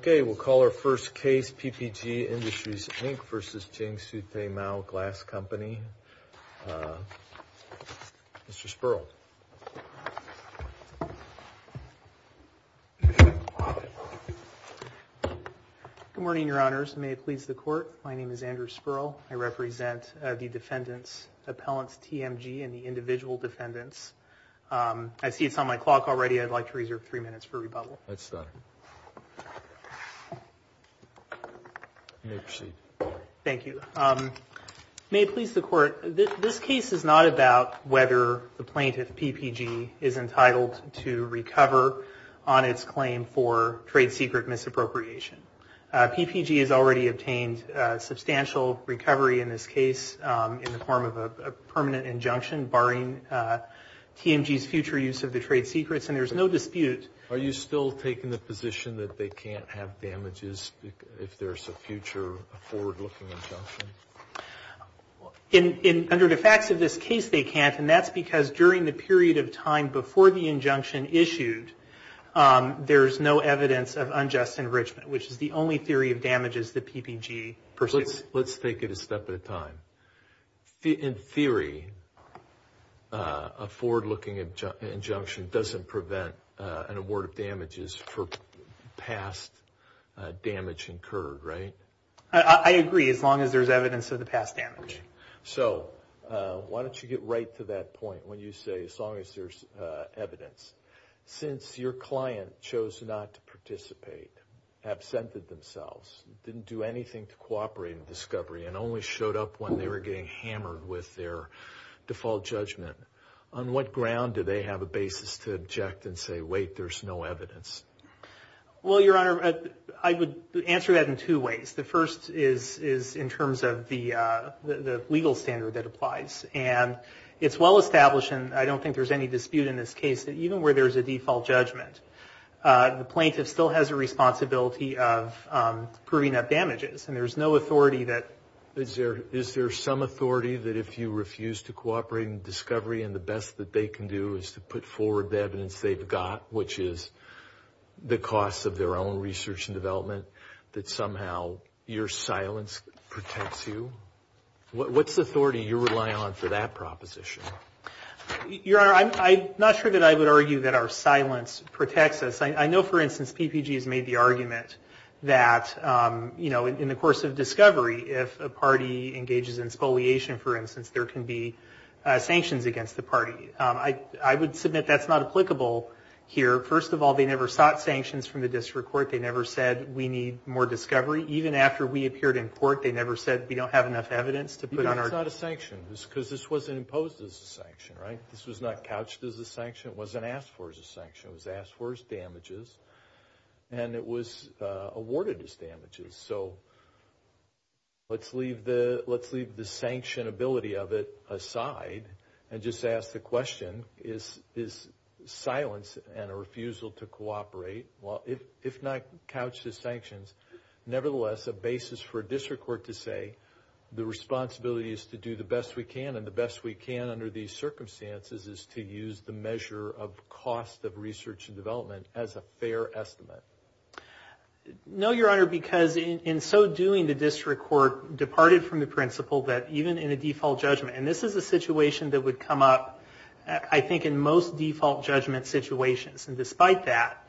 Okay, we'll call our first case PPG IndustriesvsJiangsu Tie Mao Glass Co Ltd, Mr. Spurl. Good morning, your honors. May it please the court. My name is Andrew Spurl. I represent the defendants, appellants TMG and the individual defendants. I see it's on my clock already. I'd like to reserve three minutes for rebuttal. Let's start. You may proceed. Thank you. May it please the court. This case is not about whether the plaintiff, PPG, is entitled to recover on its claim for trade secret misappropriation. PPG has already obtained substantial recovery in this case in the form of a permanent injunction barring TMG's future use of the trade secrets, and there's no dispute. Are you still taking the position that they can't have damages if there's a future forward-looking injunction? Under the facts of this case, they can't, and that's because during the period of time before the injunction issued, there's no evidence of unjust enrichment, which is the only theory of damages that PPG pursues. Let's take it a step at a time. In theory, a forward-looking injunction doesn't prevent an award of damages for past damage incurred, right? I agree, as long as there's evidence of the past damage. So why don't you get right to that point when you say, as long as there's evidence. Since your client chose not to participate, absented themselves, didn't do anything to cooperate in the discovery, and only showed up when they were getting hammered with their default judgment, on what ground do they have a basis to object and say, wait, there's no evidence? Well, Your Honor, I would answer that in two ways. The first is in terms of the legal standard that applies, and it's well established, and I don't think there's any dispute in this case, that even where there's a default judgment, the plaintiff still has a responsibility of proving up damages, and there's no authority that... Is there some authority that if you refuse to cooperate in discovery, and the best that they can do is to put forward the evidence they've got, which is the cost of their own research and development, that somehow your silence protects you? What's the authority you rely on for that proposition? Your Honor, I'm not sure that I would argue that our silence protects us. I know, for instance, PPG has made the argument that in the course of discovery, if a party engages in spoliation, for instance, there can be sanctions against the party. I would submit that's not applicable here. First of all, they never sought sanctions from the district court. They never said we need more discovery. Even after we appeared in court, they never said we don't have enough evidence to put on our... It's not a sanction, because this wasn't imposed as a sanction, right? This was not couched as a sanction. It wasn't asked for as a sanction. It was asked for as damages, and it was awarded as damages. So, let's leave the sanctionability of it aside, and just ask the question, is silence and a refusal to cooperate, if not couched as sanctions, nevertheless, a basis for a district court to say, the responsibility is to do the best we can, and the best we can under these circumstances is to use the measure of cost of research and development as a fair estimate? No, Your Honor, because in so doing, the district court departed from the principle that even in a default judgment, and this is a situation that would come up, I think, in most default judgment situations, and despite that,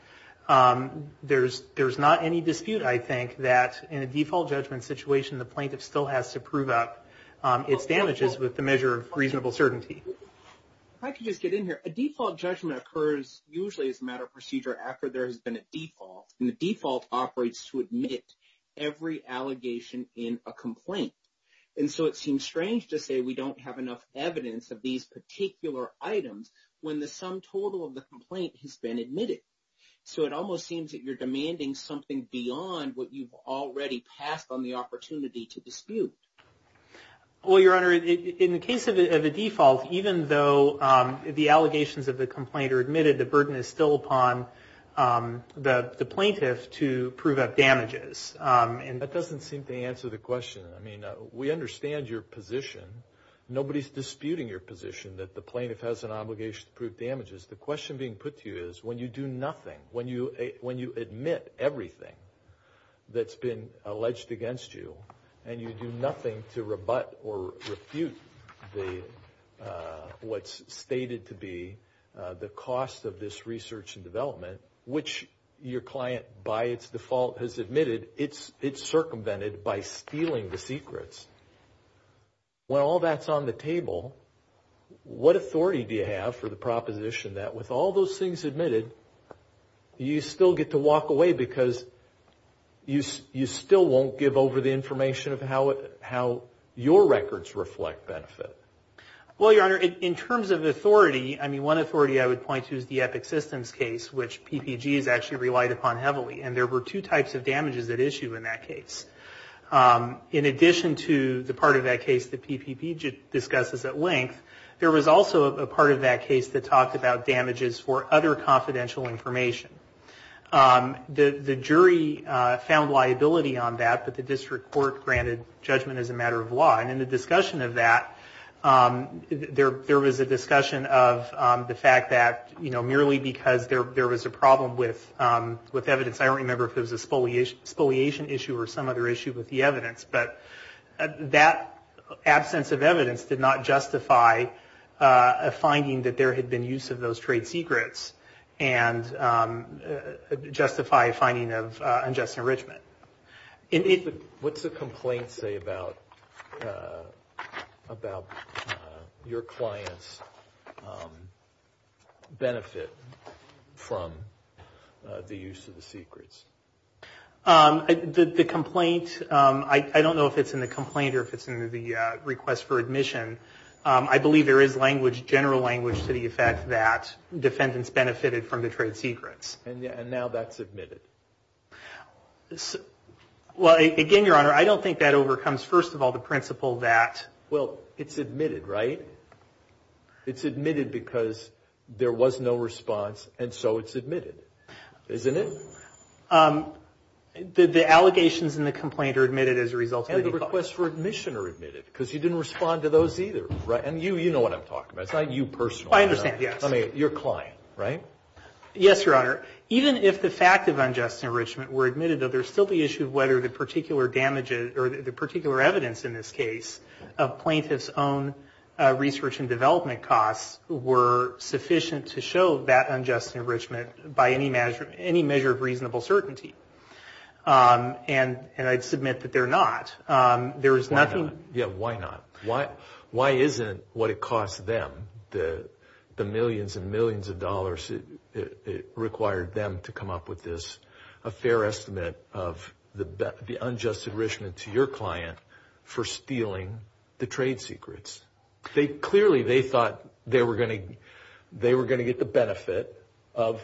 there's not any dispute, I think, that in a default judgment situation, the plaintiff still has to prove up its damages with the measure of reasonable certainty. I could just get in here. A default judgment occurs usually as a matter of procedure after there has been a default, and the default operates to admit every allegation in a complaint, and so it seems strange to say we don't have enough evidence of these particular items when the sum total of the complaint has been admitted. So, it almost seems that you're demanding something beyond what you've already passed on the opportunity to dispute. Well, Your Honor, in the case of a default, even though the allegations of the complaint are admitted, the burden is still upon the plaintiff to prove up damages. That doesn't seem to answer the question. I mean, we understand your position. Nobody's disputing your position that the plaintiff has an obligation to prove damages. The question being put to you is when you do nothing, when you admit everything that's been alleged against you, and you do nothing to rebut or refute what's stated to be the cost of this research and development, which your client by its default has admitted, it's circumvented by stealing the secrets. When all that's on the table, what authority do you have for the proposition that with all those things admitted, you still get to walk away because you still won't give over the information of how your records reflect benefit? Well, Your Honor, in terms of authority, I mean, one authority I would point to is the Epic Systems case, which PPG has actually relied upon heavily. And there were two types of damages at issue in that case. In addition to the part of that case that PPP discusses at length, there was also a part of that case that talked about damages for other confidential information. The jury found liability on that, but the district court granted judgment as a matter of law. And in the discussion of that, there was a discussion of the fact that merely because there was a problem with evidence, I don't remember if it was a spoliation issue or some other issue with the evidence, but that absence of evidence did not justify a finding that there had been use of those trade secrets and justify a finding of unjust enrichment. What's the complaint say about your client's benefit from the use of the secrets? I don't know if it's in the complaint or if it's in the request for admission. I believe there is general language to the effect that defendants benefited from the trade secrets. And now that's admitted. Well, again, Your Honor, I don't think that overcomes, first of all, the principle that... Well, it's admitted, right? It's admitted because there was no response, and so it's admitted. Isn't it? The allegations in the complaint are admitted as a result of... And the requests for admission are admitted, because you didn't respond to those either, right? And you know what I'm talking about. It's not you personally. I understand, yes. I mean, your client, right? Yes, Your Honor. Even if the fact of unjust enrichment were admitted, though, there'd still whether the particular damage or the particular evidence in this case of plaintiff's own research and development costs were sufficient to show that unjust enrichment by any measure of reasonable certainty. And I'd submit that they're not. There is nothing... Yeah, why not? Why isn't what it cost them, the millions and millions of dollars it required them to come up with this, a fair estimate of the unjust enrichment to your client for stealing the trade secrets? Clearly, they thought they were going to get the benefit of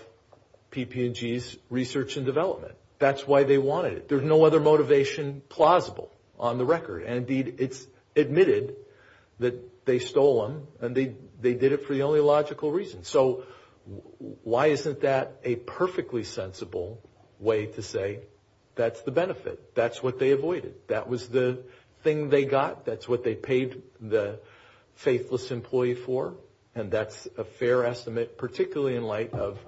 PP&G's research and development. That's why they wanted it. There's no other motivation plausible on the record. And indeed, it's admitted that they stole them, and they did it for the only logical reason. So why isn't that a perfectly sensible way to say that's the benefit? That's what they avoided. That was the thing they got. That's what they paid the faithless employee for. And that's a fair estimate, particularly in light of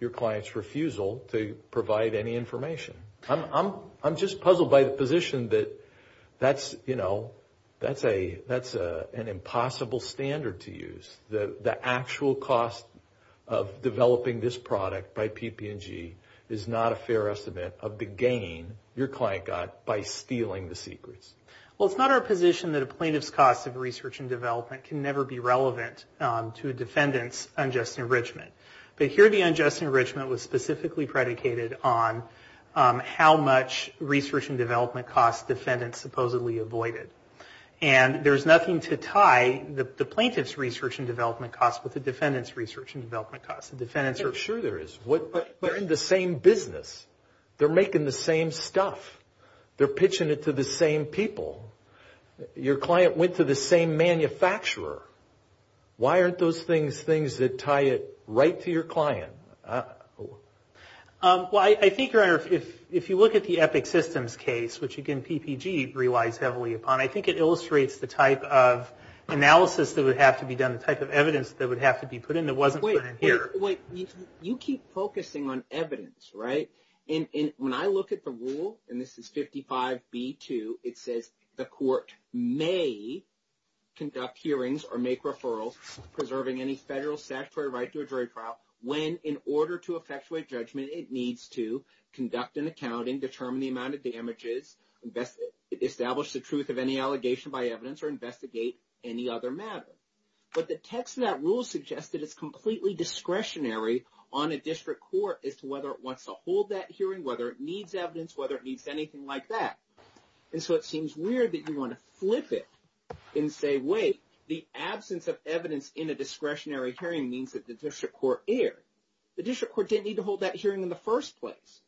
your client's refusal to provide any information. I'm just puzzled by the position that that's, you know, that's an impossible standard to use. The actual cost of developing this product by PP&G is not a fair estimate of the gain your client got by stealing the secrets. Well, it's not our position that a plaintiff's cost of research and development can never be relevant to a defendant's unjust enrichment. But here, the unjust enrichment was specifically predicated on how much research and development costs defendants supposedly avoided. And there's nothing to tie the plaintiff's research and development costs with the defendant's research and development costs. The defendants are sure there is. They're in the same business. They're making the same stuff. They're pitching it to the same people. Your client went to the same manufacturer. Why aren't those things things that tie it right to your client? Well, I think, Your Honor, if you look at the Epic Systems case, which, again, PP&G relies heavily upon, I think it illustrates the type of analysis that would have to be done, the type of evidence that would have to be put in that wasn't put in here. Wait, wait. You keep focusing on evidence, right? And when I look at the rule, and this is 55B2, it says the court may conduct hearings or make referrals, preserving any federal statutory right to a jury trial, when, in fact, in order to effectuate judgment, it needs to conduct an accounting, determine the amount of damages, establish the truth of any allegation by evidence, or investigate any other matter. But the text of that rule suggests that it's completely discretionary on a district court as to whether it wants to hold that hearing, whether it needs evidence, whether it needs anything like that. And so, it seems weird that you want to flip it and say, wait, the absence of evidence in a discretionary hearing means that the district court erred. The district court didn't need to hold that hearing in the first place.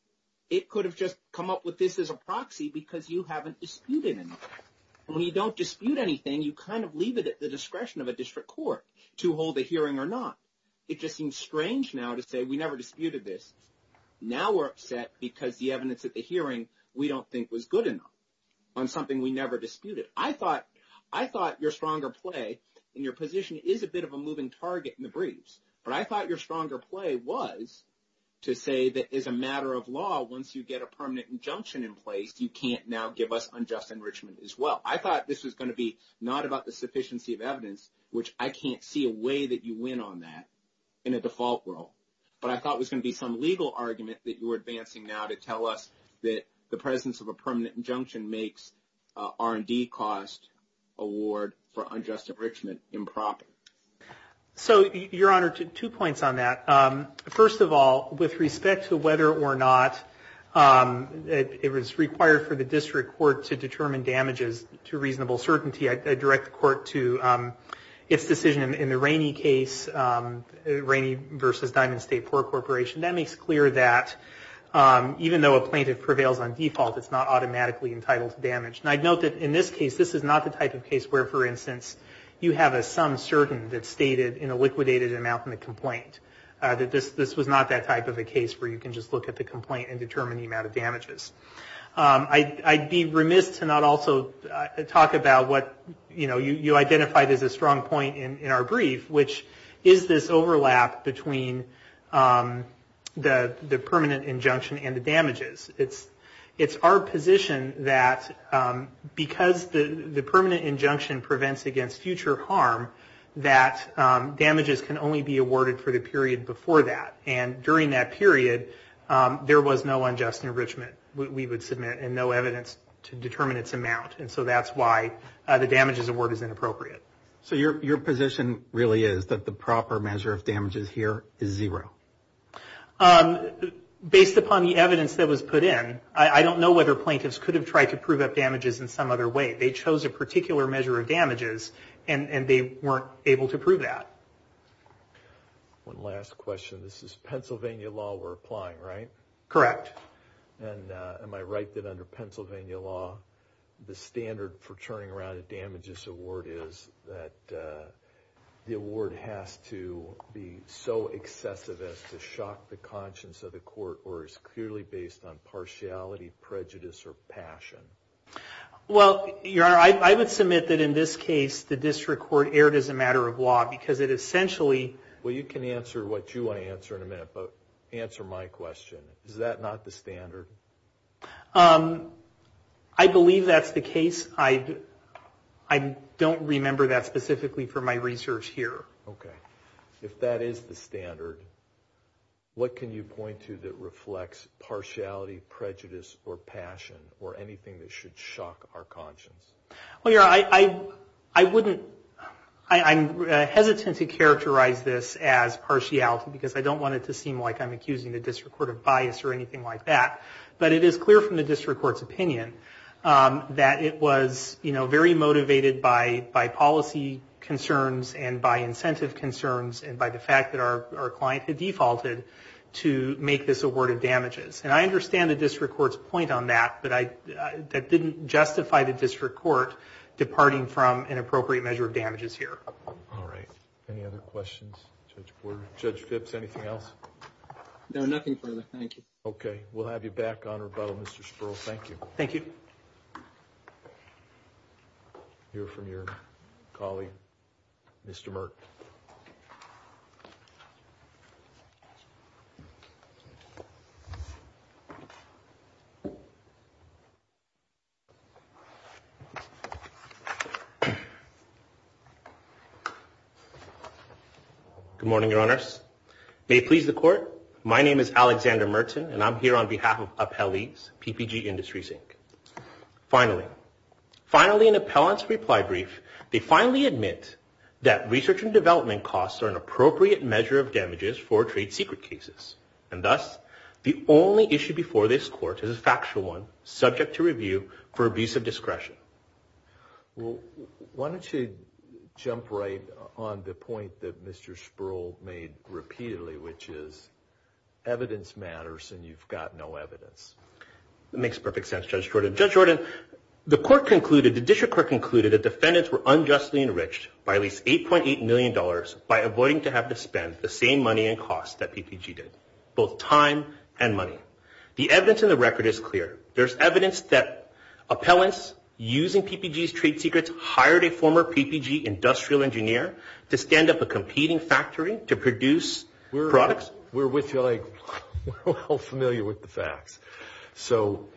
It could have just come up with this as a proxy because you haven't disputed anything. And when you don't dispute anything, you kind of leave it at the discretion of a district court to hold a hearing or not. It just seems strange now to say, we never disputed this. Now we're upset because the evidence at the hearing we don't think was good enough on something we never disputed. I thought your stronger play in your position is a bit of a breeze. But I thought your stronger play was to say that as a matter of law, once you get a permanent injunction in place, you can't now give us unjust enrichment as well. I thought this was going to be not about the sufficiency of evidence, which I can't see a way that you win on that in a default rule. But I thought it was going to be some legal argument that you were advancing now to tell us that the presence of a permanent injunction makes R&D cost award for unjust enrichment. Your Honor, two points on that. First of all, with respect to whether or not it was required for the district court to determine damages to reasonable certainty, I direct the court to its decision in the Rainey case, Rainey versus Diamond State Port Corporation. That makes clear that even though a plaintiff prevails on default, it's not automatically entitled to damage. And I'd note that in this case, this is not the type of case where, for instance, you have a sum certain that's stated in a liquidated amount in the complaint, that this was not that type of a case where you can just look at the complaint and determine the amount of damages. I'd be remiss to not also talk about what you identified as a strong point in our brief, which is this overlap between the permanent injunction and the damages. It's our position that because the permanent injunction prevents against future harm, that damages can only be awarded for the period before that. And during that period, there was no unjust enrichment we would submit and no evidence to determine its amount. And so that's why the damages award is inappropriate. So your position really is that the proper measure of damages here is zero? Based upon the evidence that was put in, I don't know whether plaintiffs could have tried to prove up damages in some other way. They chose a particular measure of damages and they weren't able to prove that. One last question. This is Pennsylvania law we're applying, right? Correct. And am I right that under Pennsylvania law, the standard for turning around a damages award is that the award has to be so excessive as to shock the conscience of the court or is clearly based on partiality, prejudice, or passion? Well, your honor, I would submit that in this case the district court erred as a matter of law because it essentially... Well, you can answer what you want to answer in a minute, but answer my question. Is that not the standard? I believe that's the case. I don't remember that specifically for my research here. Okay. If that is the standard, what can you point to that reflects partiality, prejudice, or passion or anything that should shock our conscience? Well, your honor, I wouldn't... I'm hesitant to characterize this as partiality because I don't want it to seem like I'm accusing the district court of bias or anything like that. But it is clear from the district court's opinion that it was, you know, very motivated by policy concerns and by incentive concerns and by the fact that our client had defaulted to make this award of damages. And I understand the district court's point on that, but that didn't justify the district court departing from an appropriate measure of damages here. All right. Any other questions, Judge Porter? Judge Phipps, anything else? No, nothing further. Thank you. Okay. We'll have you back on rebuttal, Mr. Sperl. Thank you. Thank you. Hear from your colleague, Mr. Merck. Good morning, your honors. May it please the court, my name is Alexander Merton, and I'm here on behalf of Appellees, PPG Industries, Inc. Finally, in the appellant's reply brief, they finally admit that research and development costs are an appropriate measure of damages for trade secret cases. And thus, the only issue before this court is a factual one, subject to review for abuse of discretion. Well, why don't you jump right on the point that Mr. Sperl made repeatedly, which is evidence matters and you've got no evidence. That makes perfect sense, Judge Jordan. Judge Jordan, the court concluded, the district court concluded that defendants were unjustly enriched by at least $8.8 million by avoiding to have to spend the same money and costs that PPG did, both time and money. The evidence in the record is using PPG's trade secrets, hired a former PPG industrial engineer to stand up a competing factory to produce products. We're with you, like, we're all familiar with the facts. So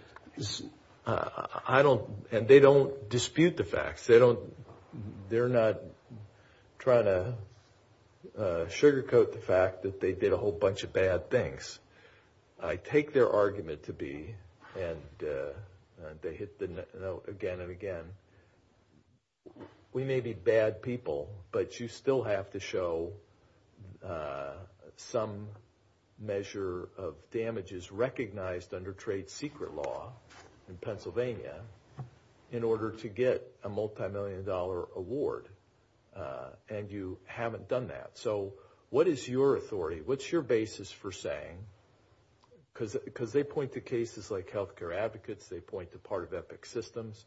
I don't, and they don't dispute the facts. They don't, they're not trying to sugarcoat the fact that they did a whole bunch of bad things. I take their argument to be, and they hit the note again and again, we may be bad people, but you still have to show some measure of damages recognized under trade secret law in Pennsylvania in order to get a multimillion dollar award. And you what's your basis for saying, because they point to cases like healthcare advocates, they point to part of Epic Systems,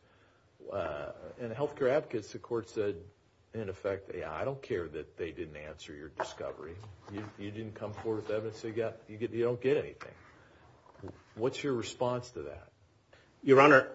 and healthcare advocates, the court said, in effect, I don't care that they didn't answer your discovery. You didn't come forward with evidence. You don't get anything. What's your response to that? Your Honor,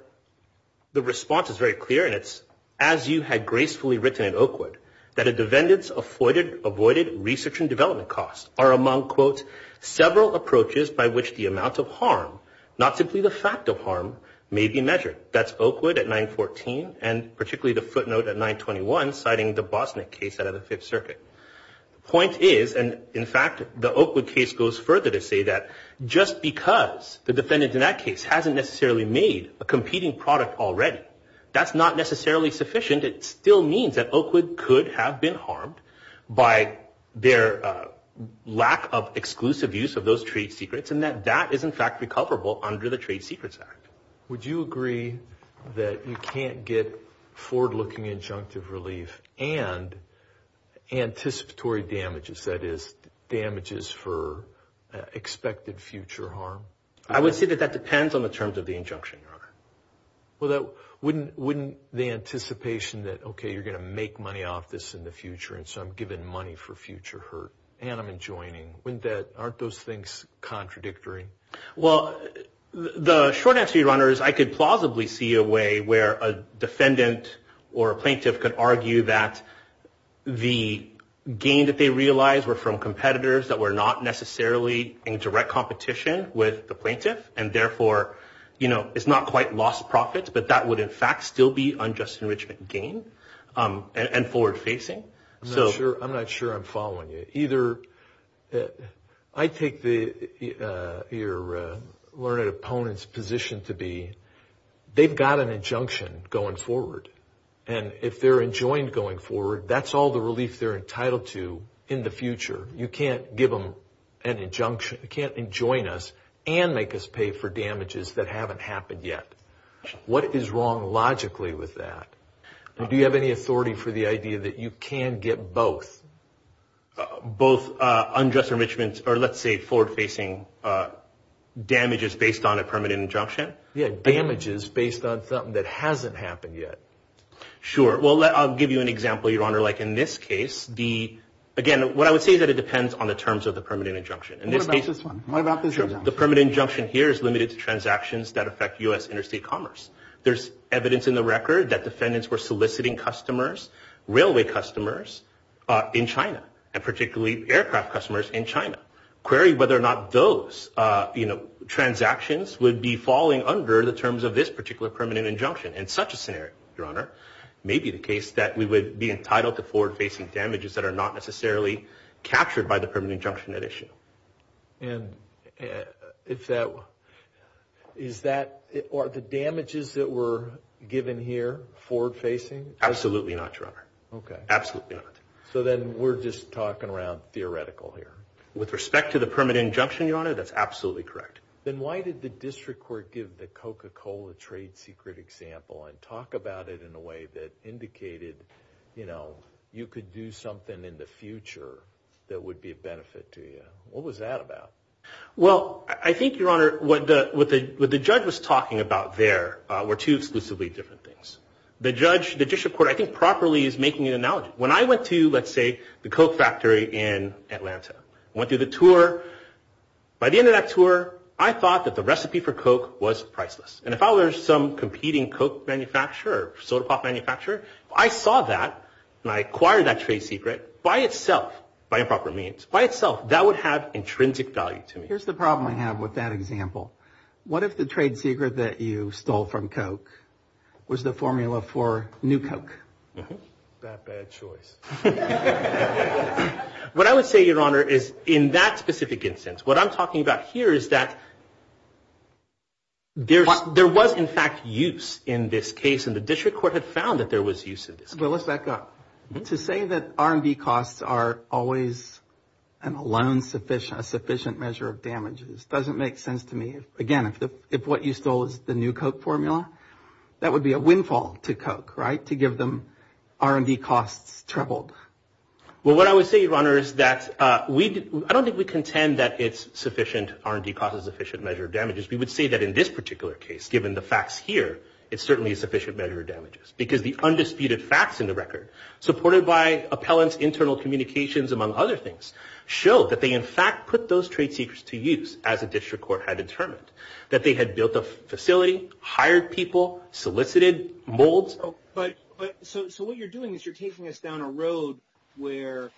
the response is very clear. And it's as you had gracefully written in Oakwood that a defendant's avoided research and development costs are among, quote, several approaches by which the amount of harm, not simply the fact of harm, may be measured. That's Oakwood at 914, and particularly the footnote at 921, citing the Bosnick case out of the Fifth Circuit. The point is, and in fact, the Oakwood case goes further to say that just because the defendant in that case hasn't necessarily made a competing product already, that's not necessarily sufficient. It still means that Oakwood could have been harmed by their lack of exclusive use of those trade secrets, and that that is, in fact, recoverable under the Trade Secrets Act. Would you agree that you can't get forward-looking injunctive relief and anticipatory damages, that is, damages for expected future harm? I would say that that depends on the terms of the injunction, Your Honor. Well, wouldn't the anticipation that, okay, you're going to make money off this in the future, and so I'm giving money for future hurt, and I'm enjoining, aren't those things contradictory? Well, the short answer, Your Honor, is I could plausibly see a way where a defendant or a plaintiff could argue that the gain that they realized were from competitors that were not lost profits, but that would, in fact, still be unjust enrichment gain and forward-facing. I'm not sure I'm following you. I take your learned opponent's position to be they've got an injunction going forward, and if they're enjoined going forward, that's all the relief they're entitled to in the future. You can't give them an injunction. You can't enjoin us and make us pay for damages that haven't happened yet. What is wrong logically with that? Do you have any authority for the idea that you can get both? Both unjust enrichment or, let's say, forward-facing damages based on a permanent injunction? Yeah, damages based on something that hasn't happened yet. Sure. Well, I'll give you an example, Your Honor. In this case, again, what I would say is that it depends on the terms of the permanent injunction. What about this one? What about this injunction? The permanent injunction here is limited to transactions that affect U.S. interstate commerce. There's evidence in the record that defendants were soliciting customers, railway customers, in China, and particularly aircraft customers in China. Query whether or not those transactions would be falling under the terms of this particular permanent injunction. In such a scenario, Your Honor, it may be the case that we would be entitled to forward-facing damages that are not necessarily captured by the permanent injunction at issue. Are the damages that were given here forward-facing? Absolutely not, Your Honor. Okay. Absolutely not. So then we're just talking around theoretical here. With respect to the permanent injunction, Your Honor, that's absolutely correct. Then why did the district court give the Coca-Cola trade secret example and talk about it in a way that indicated, you know, you could do something in the future that would be a benefit to you? What was that about? Well, I think, Your Honor, what the judge was talking about there were two exclusively different things. The judge, the district court, I think properly is making an analogy. When I went to, let's say, the Coke factory in Atlanta, I went through the tour. By the end of that tour, I thought that the recipe for Coke was priceless. And if I were some competing Coke manufacturer or soda pop manufacturer, I saw that and I acquired that trade secret by itself, by improper means. By itself, that would have intrinsic value to me. Here's the problem I have with that example. What if the trade secret that you stole from Coke was the formula for new Coke? That bad choice. What I would say, Your Honor, is in that specific instance, what I'm talking about here is that there was, in fact, use in this case. And the district court had found that there was use in this case. But let's back up. To say that R&D costs are always a sufficient measure of damage, it doesn't make sense to me. Again, if what you stole is the new Coke formula, that would be a windfall to Coke, right? To give them R&D costs tripled. Well, what I would say, Your Honor, is that I don't think we contend that it's sufficient R&D costs are a sufficient measure of damages. We would say that in this particular case, given the facts here, it's certainly a sufficient measure of damages. Because the undisputed facts in the record, supported by appellants, internal communications, among other things, show that they, in fact, put those trade secrets to use, as the district court had determined. That they had built a facility, hired people, solicited molds. So what you're doing is you're taking us down a road where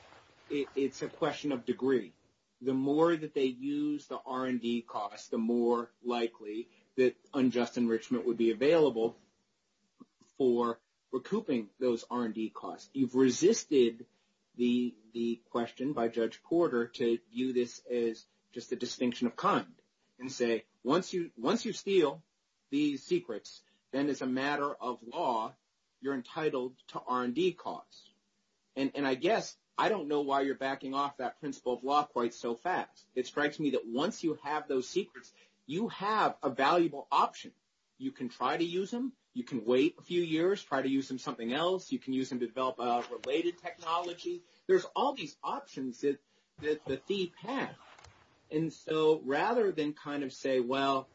it's a question of degree. The more that they use the R&D costs, the more likely that unjust enrichment would be available for recouping those R&D costs. You've resisted the question by Judge Porter to view this as just a distinction of kind. And say, once you steal these secrets, then as a matter of law, you're entitled to R&D costs. And I guess, I don't know why you're backing off that principle of law quite so fast. It strikes me that once you have those secrets, you have a valuable option. You can try to use them. You can wait a few years, try to use them something else. You can use them to develop a related technology. There's all these options that the thief has. And so, rather than kind of say, well,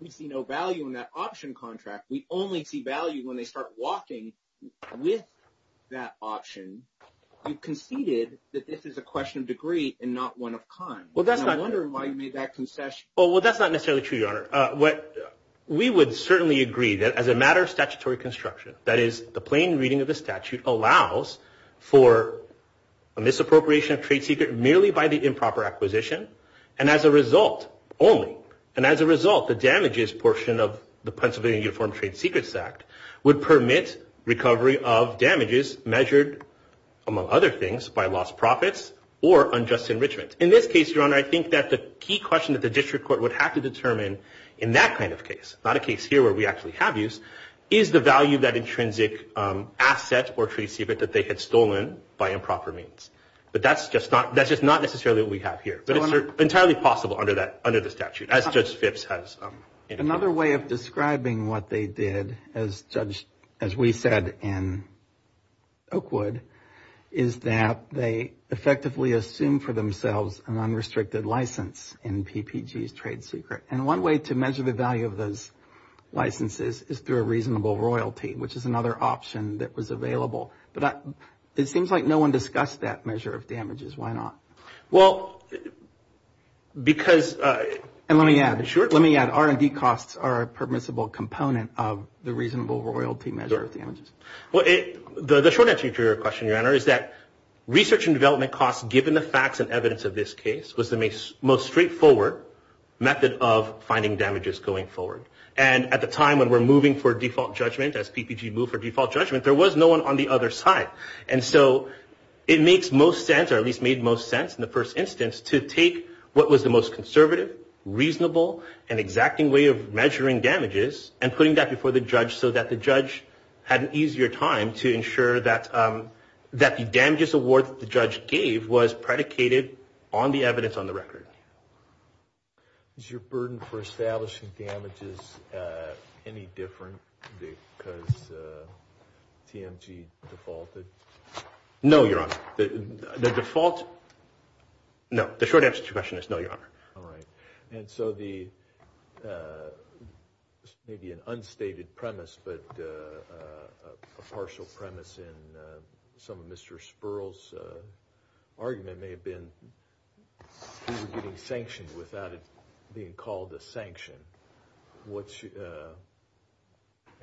we see no value in that option contract. We only see value when they start walking with that option. You conceded that this is a question of degree and not one of kind. And I wonder why you made that concession. Well, that's not necessarily true, Your Honor. We would certainly agree that as a matter of statutory construction, that is, the plain reading of the statute allows for a misappropriation of trade secret merely by the improper acquisition, and as a result, only. The Pennsylvania Uniform Trade Secrets Act would permit recovery of damages measured, among other things, by lost profits or unjust enrichment. In this case, Your Honor, I think that the key question that the district court would have to determine in that kind of case, not a case here where we actually have use, is the value of that intrinsic asset or trade secret that they had stolen by improper means. But that's just not necessarily what we have here. But it's entirely possible under the statute, as Judge Phipps has indicated. Another way of describing what they did, as we said in Oakwood, is that they effectively assumed for themselves an unrestricted license in PPG's trade secret. And one way to measure the value of those licenses is through a reasonable royalty, which is another option that was available. But it seems like no one discussed that measure of damages. Why not? Well, because... And let me add, R&D costs are a permissible component of the reasonable royalty measure of damages. Well, the short answer to your question, Your Honor, is that research and development costs, given the facts and evidence of this case, was the most straightforward method of finding damages going forward. And at the time when we're moving for default judgment, as PPG moved for default judgment, there was no one on the other side. And so it makes most sense, or at least made most sense in the first instance, to take what was the most conservative, reasonable, and exacting way of measuring damages and putting that before the judge so that the judge had an easier time to ensure that the damages award that the judge gave was predicated on the evidence on the record. Is your burden for establishing damages any different because TMG defaulted? No, Your Honor. The default... No. The short answer to your question is no, Your Honor. All right. And so the... maybe an unstated premise, but a partial premise in some of Mr. Sperl's argument may have been that we were getting sanctioned without it being called a sanction. I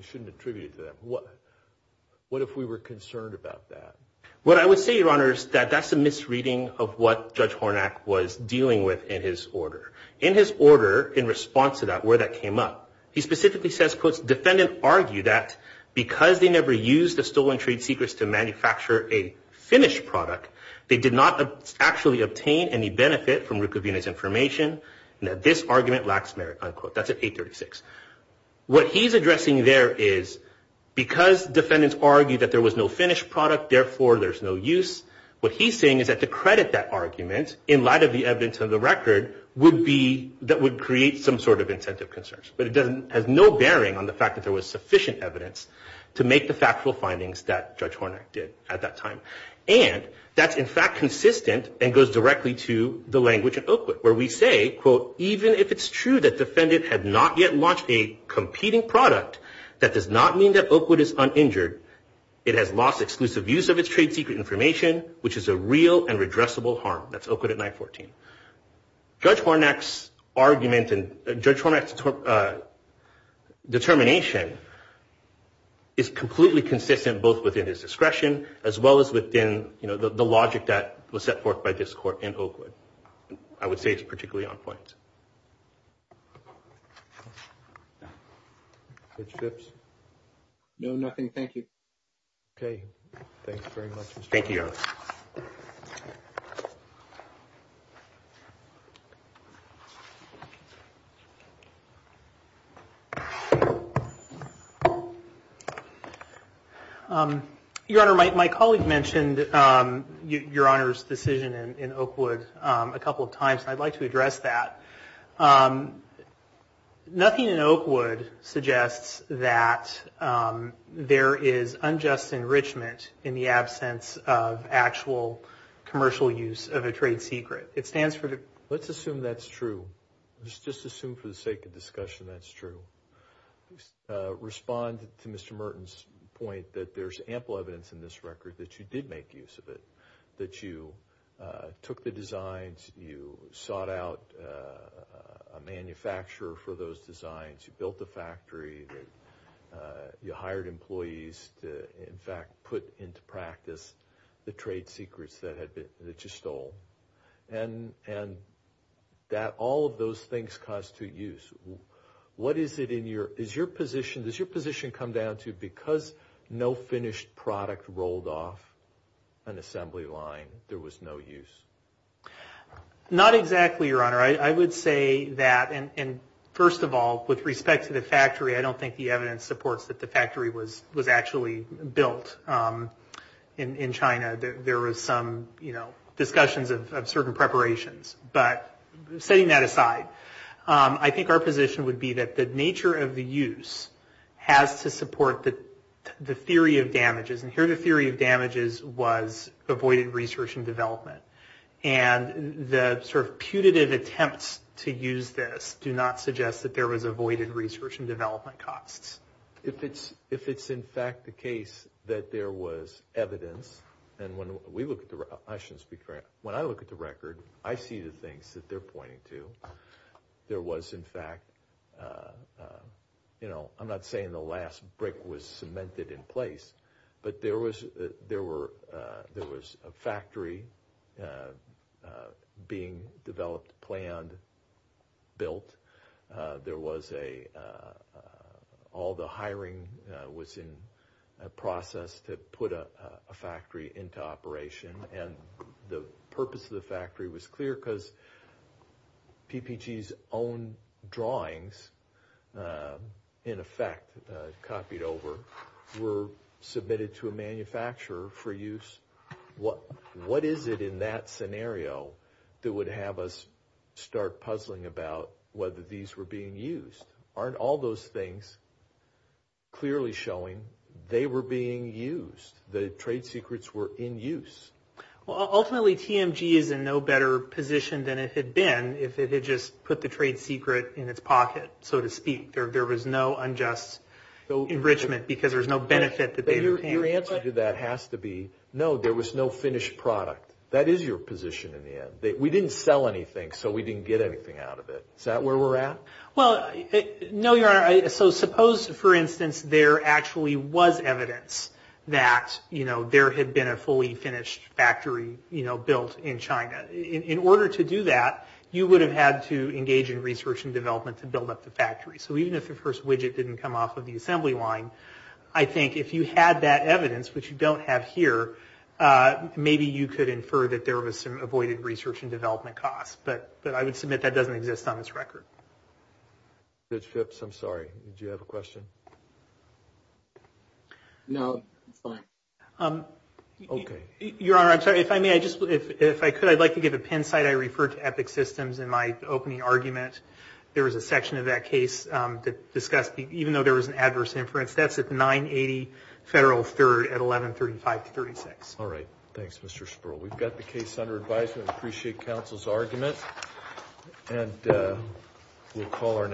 shouldn't attribute it to that. What if we were concerned about that? What I would say, Your Honor, is that that's a misreading of what Judge Hornack was dealing with in his order. In his order, in response to that, where that came up, he specifically says, quote, defendant argued that because they never used the stolen trade secrets to manufacture a actually obtain any benefit from Rukavina's information, and that this argument lacks merit, unquote. That's at 836. What he's addressing there is because defendants argued that there was no finished product, therefore there's no use. What he's saying is that to credit that argument in light of the evidence of the record would be that would create some sort of incentive concerns. But it has no bearing on the fact that there was sufficient evidence to make the factual findings that Judge Hornack did at that time. And that's, in fact, consistent and goes directly to the language in Oakwood, where we say, quote, even if it's true that defendant had not yet launched a competing product, that does not mean that Oakwood is uninjured. It has lost exclusive use of its trade secret information, which is a real and redressable harm. That's Oakwood at 914. Judge Hornack's argument and Judge Hornack's determination is completely consistent both within his discretion as well as within, you know, the logic that was set forth by this court in Oakwood. I would say it's particularly on point. Judge Phipps? No, nothing. Thank you. Okay. Thanks very much. Thank you, Your Honor. Your Honor, my colleague mentioned Your Honor's decision in Oakwood a couple of times. I'd like to address that. Nothing in Oakwood suggests that there is unjust enrichment in the absence of actual commercial use of a trade secret. It stands for the... Let's assume that's true. Let's just assume for the sake of discussion that's true. Respond to Mr. Merton's point that there's ample evidence in this record that you did make use of it. That you took the designs, you sought out a manufacturer for those designs, you built a factory, you hired employees to, in fact, put into practice the trade secrets that you stole. And that all of those things constitute use. What is it in your... Does your position come down to because no finished product rolled off an assembly line, there was no use? Not exactly, Your Honor. I would say that... And first of all, with respect to the factory, I don't think the evidence supports that the factory was actually built in China. There was some discussions of certain preparations. But setting that aside, I think our position would be that the nature of the use has to support the theory of damages. And here the theory of damages was avoided research and development. And the sort of putative attempts to use this do not suggest that there was avoided research and development costs. If it's in fact the case that there was evidence, and when we look at the... I shouldn't speak for... When I look at the record, I see the things that they're pointing to. There was in fact... I'm not saying the last brick was cemented in place, but there was a factory being developed, planned, built. There was a... All the hiring was in a process to put a factory into operation. And the purpose of the factory was clear because PPG's own drawings in effect copied over were submitted to a manufacturer for use. What is it in that scenario that would have us start puzzling about whether these were being used? Aren't all those things clearly showing they were being used? The trade secrets were in use. Well, ultimately TMG is in no better position than it had been if it had just put the trade secret in its pocket, so to speak. There was no unjust enrichment because there's no benefit that they... Your answer to that has to be, no, there was no finished product. That is your position in the end. We didn't sell anything, so we didn't get anything out of it. Is that where we're at? Well, no, Your Honor. So suppose, for instance, there actually was evidence that there had been a fully finished factory built in China. In order to do that, you would have had to engage in research and development to build up the factory. So even if the first widget didn't come off of the assembly line, I think if you had that evidence, which you don't have here, maybe you could infer that there was some avoided research and development costs. But I would submit that doesn't exist on this record. Judge Phipps, I'm sorry. Did you have a question? No, it's fine. Okay. Your Honor, I'm sorry. If I may, I just... If I could, I'd like to give a pin site. I referred to Epic Systems in my opening argument. There was a section of that case that discussed, even though there was an adverse inference, that's at 980 Federal 3rd at 1135-36. All right. Thanks, Mr. Sperl. We've got the case under advisement. Appreciate counsel's argument. And we'll call our next...